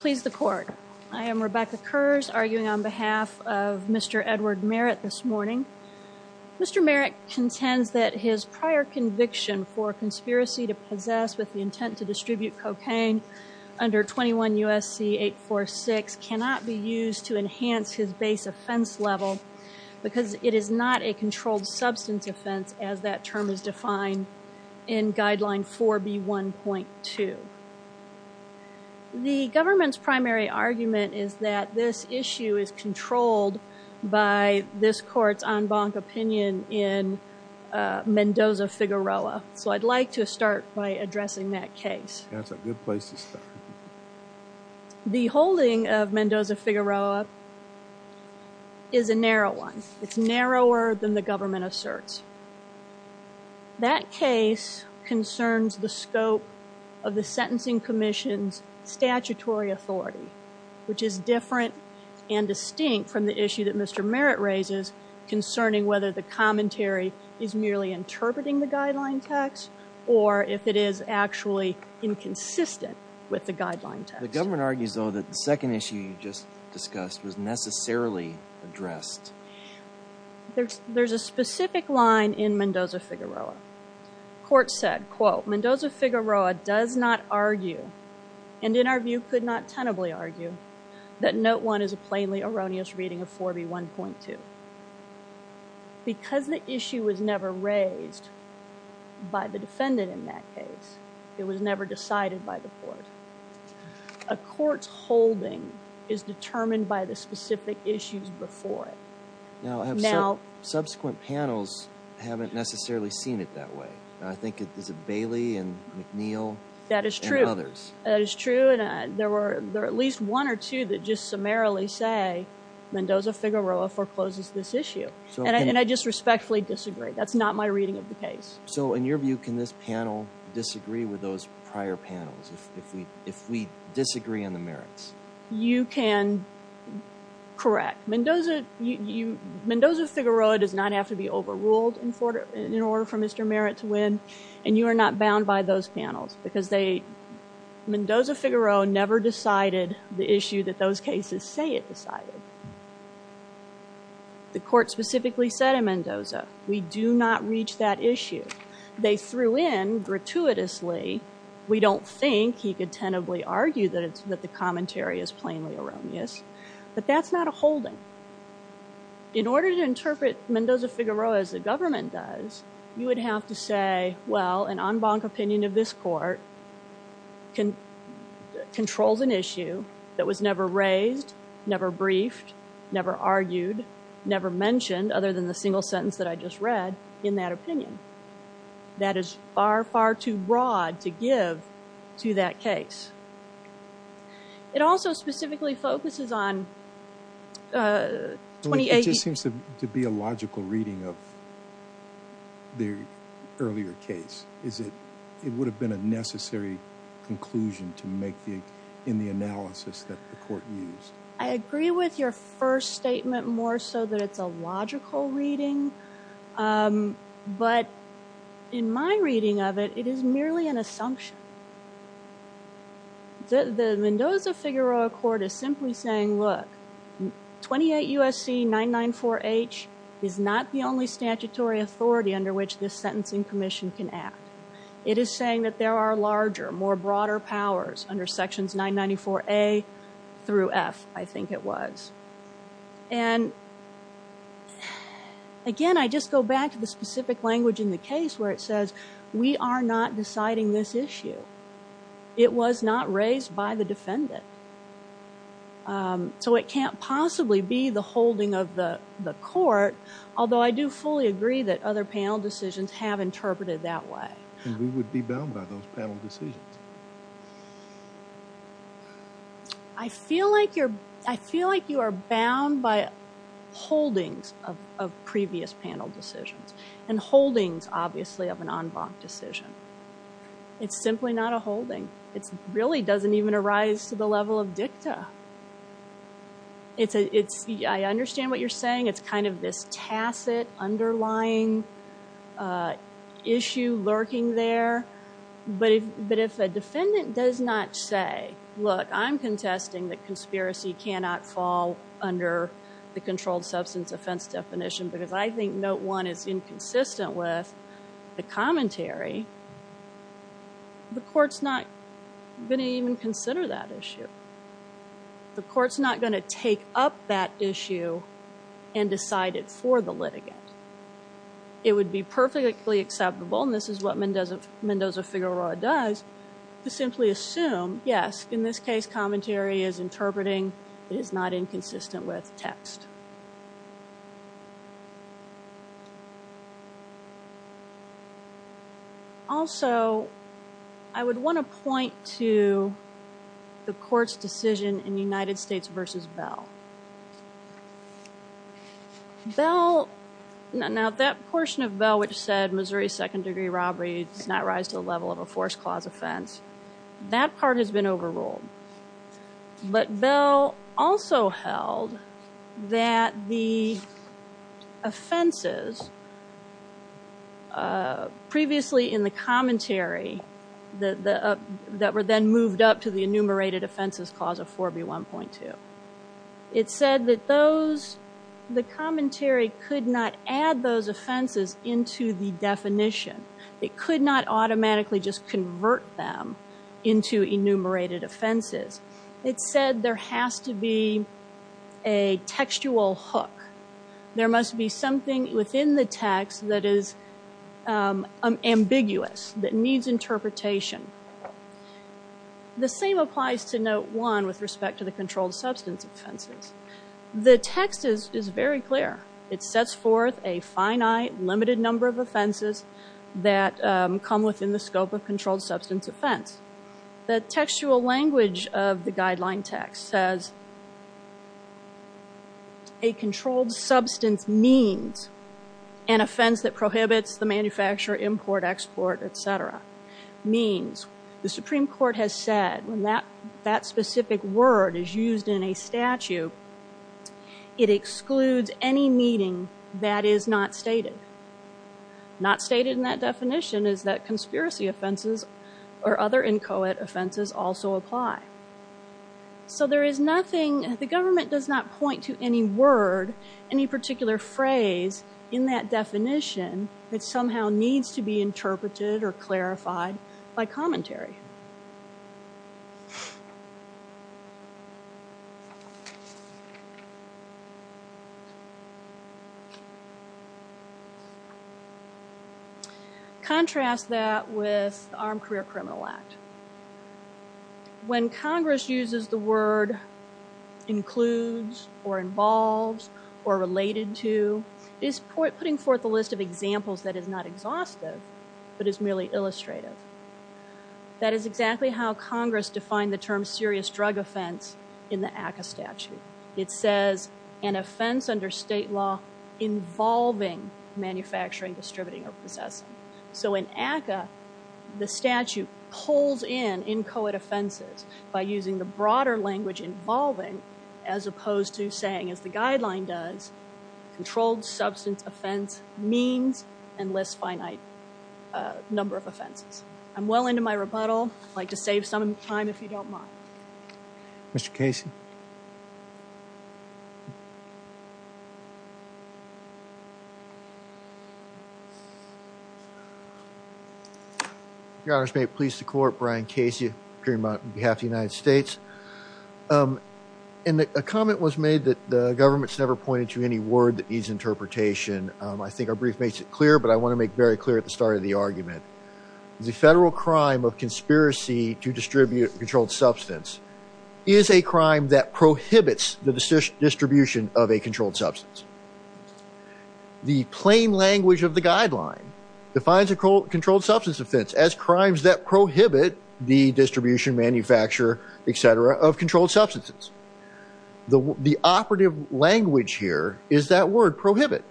Please the court. I am Rebecca Kurz arguing on behalf of Mr. Edward Merritt this morning. Mr. Merritt contends that his prior conviction for conspiracy to possess with the intent to distribute cocaine under 21 U.S.C. 846 cannot be used to enhance his base offense level because it is not a controlled substance offense as that term is defined in guideline 4b 1.2. The government's primary argument is that this issue is controlled by this court's en banc opinion in Mendoza-Figueroa, so I'd like to start by addressing that case. That's a good place to start. The holding of Mendoza-Figueroa is a narrow one. It's narrower than the government asserts. That case concerns the scope of the sentencing commission's statutory authority, which is different and distinct from the issue that Mr. Merritt raises concerning whether the commentary is merely interpreting the guideline text or if it is actually inconsistent with the guideline text. The government argues though that the second issue you just discussed was necessarily addressed. There's a specific line in Mendoza-Figueroa. Court said, quote, Mendoza-Figueroa does not argue and in our view could not tenably argue that note one is a plainly erroneous reading of 4b 1.2. Because the issue was never raised by the defendant in that case, it was never decided by the court. A court's holding is determined by the specific issues before it. Now, subsequent panels haven't necessarily seen it that way. I think it is a Bailey and McNeil. That is true. That is true and there were there at least one or two that just summarily say Mendoza-Figueroa forecloses this issue and I just respectfully disagree. That's not my reading of the case. So in your view, can this panel disagree with those prior panels if we disagree on the merits? You can correct. Mendoza-Figueroa does not have to be overruled in order for Mr. Merritt to win and you are not bound by those panels because Mendoza-Figueroa never decided the issue that those cases say it decided. The court specifically said in Mendoza, we do not reach that issue. They threw in gratuitously, we don't think he could tentatively argue that it's that the commentary is plainly erroneous, but that's not a holding. In order to interpret Mendoza-Figueroa as the government does, you would have to say, well, an en banc opinion of this court controls an issue that was never raised, never briefed, never argued, never mentioned other than the single sentence that I just read in that opinion. That is far, far too broad to give to that case. It also specifically focuses on 2018. It just seems to be a logical reading of the earlier case. Is it, it would have been a necessary conclusion to make in the analysis that the court used? I agree with your first statement more so that it's a logical reading, but in my reading of it, it is merely an assumption. The Mendoza-Figueroa court is simply saying, look, 28 U.S.C. 994-H is not the only statutory authority under which this sentencing commission can act. It is saying that there are larger, more broader powers under sections 994-A through F, I think it was. And again, I just go back to the specific language in the case where it says, we are not deciding this issue. It was not raised by the defendant. So it can't possibly be the holding of the court, although I do fully agree that other panel decisions have interpreted that way. And we would be bound by those panel decisions. I feel like you're, I feel like you are bound by holdings of previous panel decisions and holdings, obviously, of an en banc decision. It's simply not a holding. It really doesn't even arise to the level of dicta. It's, I understand what you're saying. It's kind of this tacit underlying issue lurking there. But if a defendant does not say, look, I'm contesting that conspiracy cannot fall under the controlled substance offense definition because I think note one is inconsistent with the commentary, the court's not going to even consider that issue. The court's not going to take up that issue and decide it for the litigant. It would be perfectly acceptable, and this is what Mendoza-Figueroa does, to simply assume, yes, in this case, commentary is interpreting. It is not inconsistent with text. Also, I would want to point to the court's decision in United States v. Bell. Bell, now that portion of Bell which said Missouri second degree robbery does not rise to the level of a forced clause offense, that part has been overruled. But Bell also held that the offenses previously in the commentary that were then moved up to the enumerated offenses clause of 4B1.2. It said that those, the commentary could not add those offenses into the definition. It could not automatically just convert them into enumerated offenses. It said there has to be a textual hook. There must be something within the text that is ambiguous, that needs interpretation. The same applies to note one with respect to the controlled substance offenses. The text is very clear. It sets forth a finite, limited number of offenses that come within the scope of controlled substance offense. The textual language of the guideline text says, a controlled substance means an offense that prohibits the manufacturer, import, export, et cetera, means the Supreme Court has said when that specific word is used in a statute, it excludes any meaning that is not stated. Not stated in that definition is that conspiracy offenses or other inchoate offenses also apply. So there is nothing, the government does not point to any word, any particular phrase in that definition that somehow needs to be interpreted or clarified by commentary. Contrast that with the Armed Career Criminal Act. When Congress uses the word includes or involves or related to, it is putting forth a list of examples that is not exhaustive, but is merely illustrative. That is exactly how Congress defined the term serious drug offense in the ACCA statute. It says an offense under state law involving manufacturing, distributing, or possessing. So in ACCA, the statute pulls in inchoate offenses by using the broader language involving as opposed to saying, as the guideline does, controlled substance offense means and lists finite number of offenses. I'm well into my rebuttal. I'd like to save some time if you don't mind. Mr. Casey. Your honors, may it please the court, Brian Casey appearing on behalf of the United States. A comment was made that the government's never pointed to any word that needs interpretation. I think our brief makes it clear, but I want to make very clear at the start of the argument. The federal crime of conspiracy to distribute controlled substance is a crime that prohibits the distribution of a controlled substance. The plain language of the guideline defines a controlled substance offense as crimes that prohibit the distribution, manufacture, etc., of controlled substances. The operative language here is that word prohibit.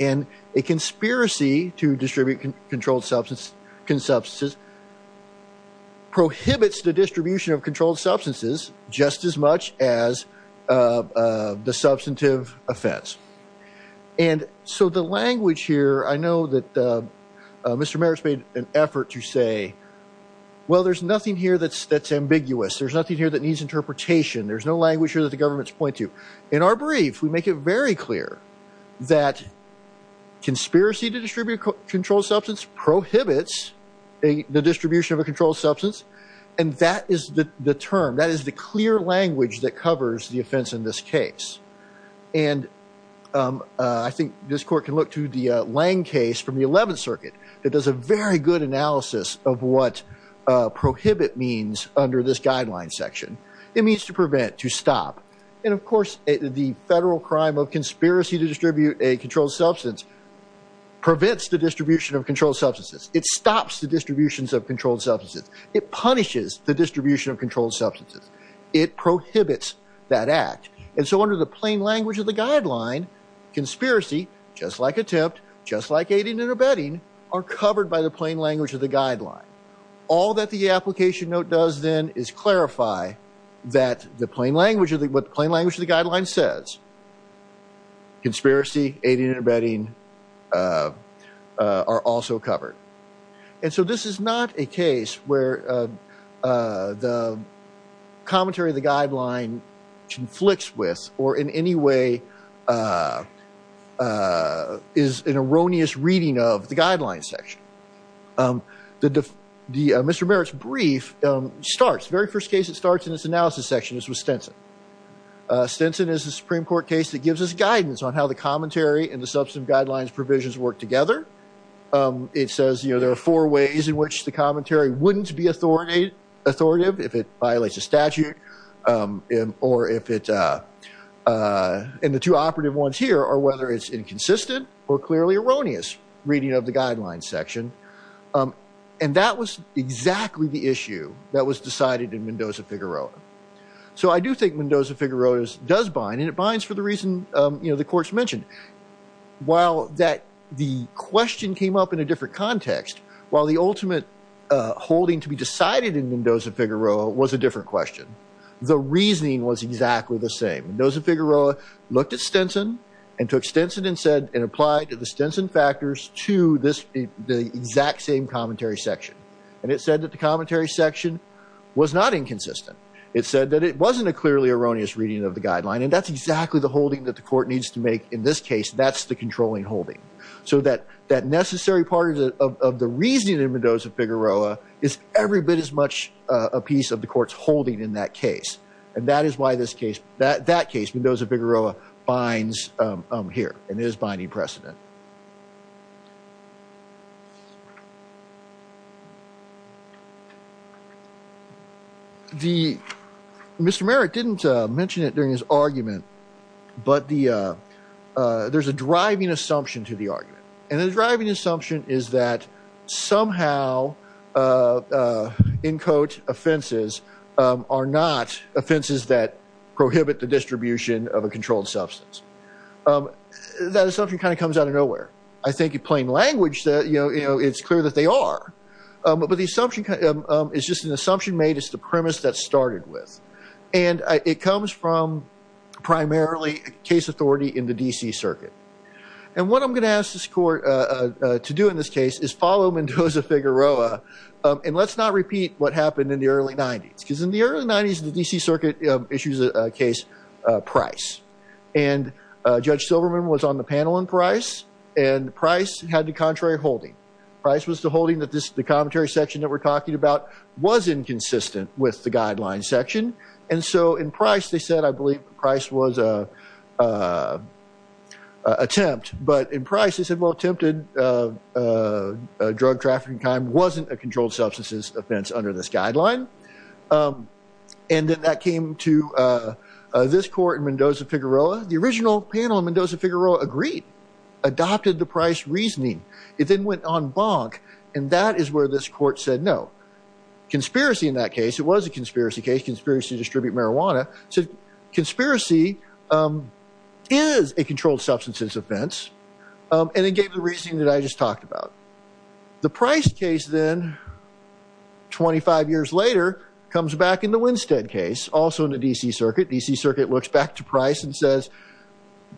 And a conspiracy to distribute controlled substances prohibits the distribution of controlled substances just as much as the substantive offense. And so the language here, I know that Mr. Merrick's made an effort to say, well, there's nothing here that's ambiguous. There's nothing here that needs interpretation. There's no language here that the government's point to. In our brief, we make it very clear that conspiracy to distribute controlled substance prohibits the distribution of a controlled substance. And that is the term, that is the clear language that covers the offense in this case. And I think this court can look to the Lang case from the 11th circuit. It does a very good analysis of what prohibit means under this guideline section. It means to prevent, to stop. And of course, the federal crime of conspiracy to distribute a controlled substance prevents the distribution of controlled substances. It stops the distributions of controlled substances. It punishes the distribution of controlled substances. It prohibits that act. And so under the plain language of the guideline, conspiracy, just like attempt, just like aiding and abetting, are covered by the plain language of the guideline. All that the application note does then is clarify that the plain language of the, what the plain language of the guideline says, conspiracy, aiding and abetting, are also covered. And so this is not a case where the commentary of the guideline conflicts with, or in any way is an erroneous reading of the guideline section. Mr. Merritt's brief starts, very first case it starts in this analysis section is with Stinson. Stinson is a Supreme Court case that gives us guidance on how the commentary and the substance guidelines provisions work together. It says there are four ways in which the commentary wouldn't be authoritative if it violates a statute, or if it, and the two operative ones here are whether it's inconsistent or clearly erroneous reading of the guideline section. And that was exactly the issue that was decided in Mendoza-Figueroa. So I do think Mendoza-Figueroa does bind, and it binds for the reason, you know, the court's mentioned. While that, the question came up in a different context, while the ultimate holding to be decided in Mendoza-Figueroa was a different question. The reasoning was exactly the same. Mendoza-Figueroa looked at Stinson and took Stinson and said, and applied to the Stinson factors to this, the exact same commentary section. And it said that the commentary section was not inconsistent. It said that it wasn't a clearly erroneous reading of the guideline. And that's exactly the holding that the court needs to make in this case. That's the controlling holding. So that necessary part of the reasoning in Mendoza-Figueroa is every bit as much a piece of the court's holding in that case. And that is why this case, that case, Mendoza-Figueroa binds here and is binding precedent. The, Mr. Merritt didn't mention it during his argument, but the, there's a driving assumption to the argument. And the driving assumption is that somehow, in quote, offenses are not offenses that prohibit the distribution of a controlled substance. That assumption kind of comes out of nowhere. I think in plain language, you know, it's clear that they are. But the assumption is just an assumption made. It's the premise that started with. And it comes from this court to do in this case is follow Mendoza-Figueroa. And let's not repeat what happened in the early nineties. Cause in the early nineties, the DC circuit issues a case, Price and Judge Silverman was on the panel in Price and Price had the contrary holding. Price was the holding that this, the commentary section that we're talking about was inconsistent with the guideline section. And so in Price, they said, I believe Price was a attempt, but in Price, they said, well, attempted drug trafficking kind wasn't a controlled substances offense under this guideline. And then that came to this court in Mendoza-Figueroa. The original panel in Mendoza-Figueroa agreed, adopted the Price reasoning. It then went on bonk. And that is where this court said, no. Conspiracy in that case, it was a conspiracy case, conspiracy to distribute marijuana. So conspiracy is a controlled substances offense. And it gave the reasoning that I just talked about. The Price case then 25 years later comes back in the Winstead case, also in the DC circuit. DC circuit looks back to Price and says,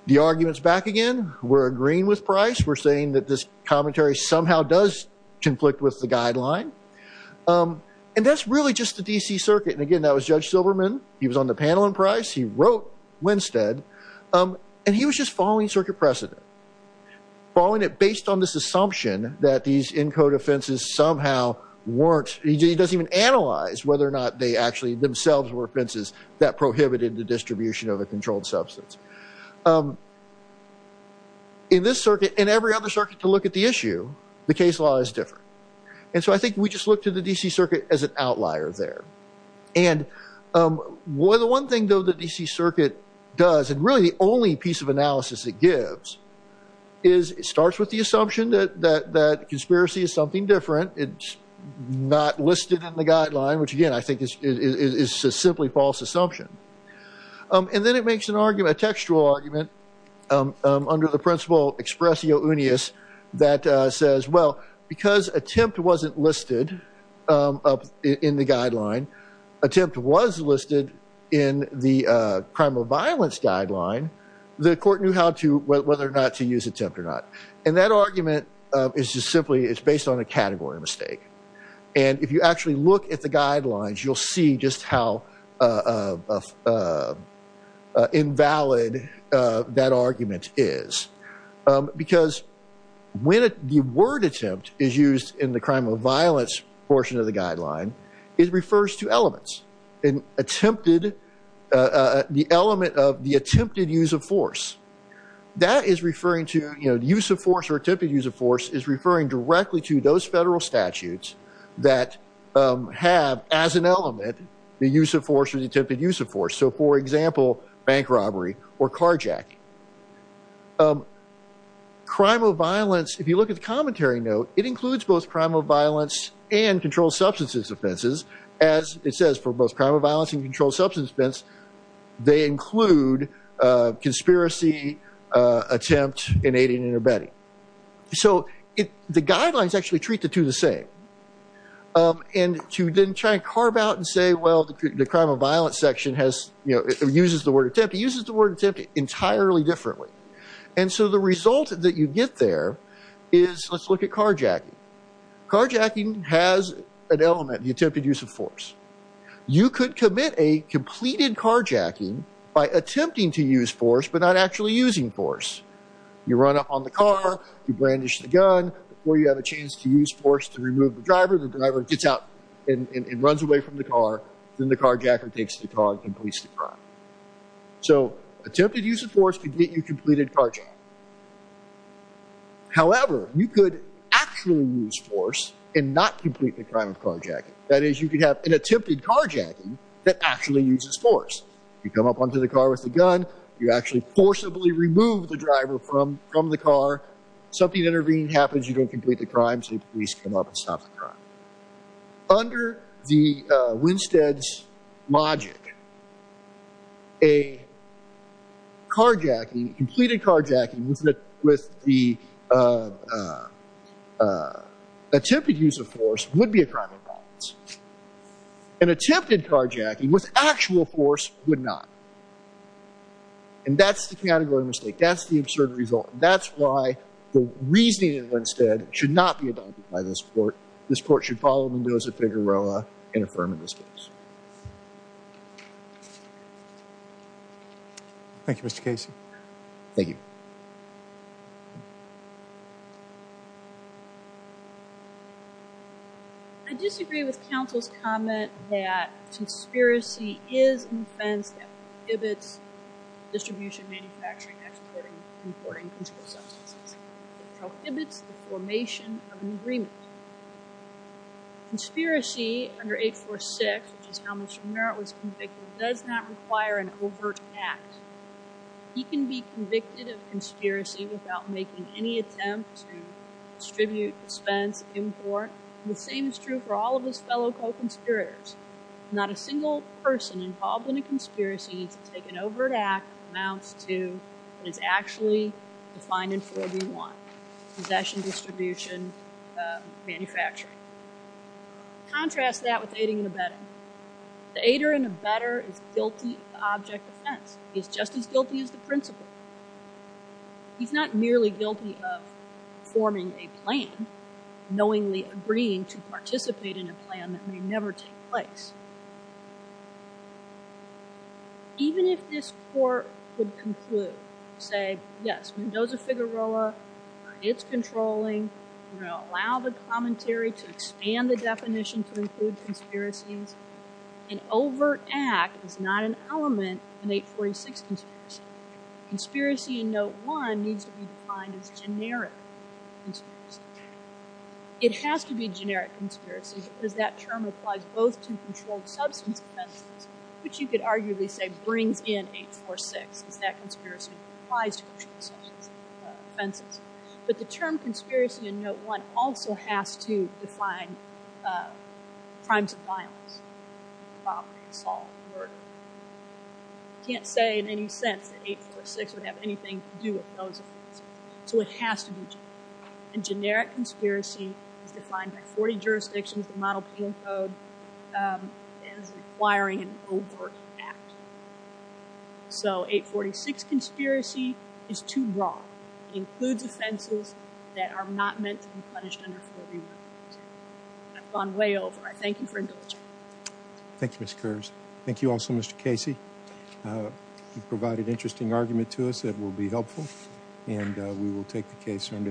the argument's back again. We're agreeing with Price. We're saying that this commentary somehow does conflict with the guideline. And that's really just the DC circuit. And again, that was Judge Silverman. He was on the panel in Price. He wrote Winstead. And he was just following circuit precedent, following it based on this assumption that these ENCODE offenses somehow weren't, he doesn't even analyze whether or not they actually themselves were offenses that prohibited the distribution of a controlled substance. In this circuit, and every other circuit to look at the issue, the case law is different. And so I think we just look to the DC circuit as an outlier there. And the one thing, though, the DC circuit does, and really the only piece of analysis it gives, is it starts with the assumption that conspiracy is something different. It's not listed in the guideline, which again, I think is a simply false assumption. And then it makes an argument, a textual argument, under the principle expressio unius that says, well, because attempt wasn't listed in the guideline, attempt was listed in the crime of violence guideline, the court knew how to, whether or not to use attempt or not. And that argument is just simply, it's based on a category mistake. And if you actually look at the guidelines, you'll see just how invalid that argument is. Because when the word attempt is used in the crime of violence portion of the guideline, it refers to elements. An attempted, the element of the attempted use of force. That is referring to, you know, use of force or attempted use of as an element, the use of force or the attempted use of force. So for example, bank robbery or car jack. Crime of violence, if you look at the commentary note, it includes both crime of violence and controlled substances offenses. As it says for both crime of violence and controlled substance offense, they include conspiracy attempt in aiding and abetting. So the guidelines actually treat the two the same. And to then try to carve out and say, well, the crime of violence section has, you know, uses the word attempt. It uses the word attempt entirely differently. And so the result that you get there is, let's look at car jacking. Car jacking has an element, the attempted use of force. You could commit a completed car jacking by attempting to use force but not actually using force. You run up on the car, you brandish the gun. Before you have a chance to use force to remove the driver, the driver gets out and runs away from the car. Then the car jacker takes the car and completes the crime. So attempted use of force could get you completed car jacking. However, you could actually use force and not complete the crime of car jacking. That is, you could have an attempted car jacking that actually uses force. You come up onto the car with the gun. You actually forcibly remove the driver from the car. Something intervening happens, you don't complete the crime, so the police come up and stop the crime. Under the Winstead's logic, a car jacking, completed car jacking with the attempted use of force would be a crime of and that's the categorical mistake. That's the absurd result. That's why the reasoning of Winstead should not be adopted by this court. This court should follow Mendoza-Figueroa in affirming this case. Thank you, Mr. Casey. Thank you. I disagree with counsel's comment that conspiracy is an offense that prohibits distribution, manufacturing, exporting, and importing consumer substances. It prohibits the formation of an agreement. Conspiracy under 846, which is how Mr. Merritt was convicted, does not require an overt act. He can be convicted of conspiracy without making any attempt to distribute, dispense, import. The same is true for all of his fellow co-conspirators. Not a single person involved in a conspiracy to take an overt act amounts to what is actually defined in 4B1, possession, distribution, manufacturing. Contrast that with aiding and abetting. The aider and abetter is object offense. He's just as guilty as the principal. He's not merely guilty of forming a plan, knowingly agreeing to participate in a plan that may never take place. Even if this court could conclude, say, yes, Mendoza-Figueroa, it's controlling, we're going to allow the commentary to expand the definition to include conspiracies, an overt act is not an element in 846 conspiracy. Conspiracy in Note 1 needs to be defined as generic conspiracy. It has to be generic conspiracy because that term applies both to controlled substance offenses, which you could arguably say brings in 846, because that conspiracy applies to controlled substance offenses. But the term conspiracy in uh crimes of violence, robbery, assault, murder, can't say in any sense that 846 would have anything to do with those offenses. So, it has to be generic and generic conspiracy is defined by 40 jurisdictions that model penal code as requiring an overt act. So, 846 conspiracy is too broad. It includes offenses that are not meant to be punished under 41. I've gone way over. I thank you for indulging. Thank you, Ms. Kearse. Thank you also, Mr. Casey. You've provided interesting argument to us that will be helpful and we will take the case under advisement.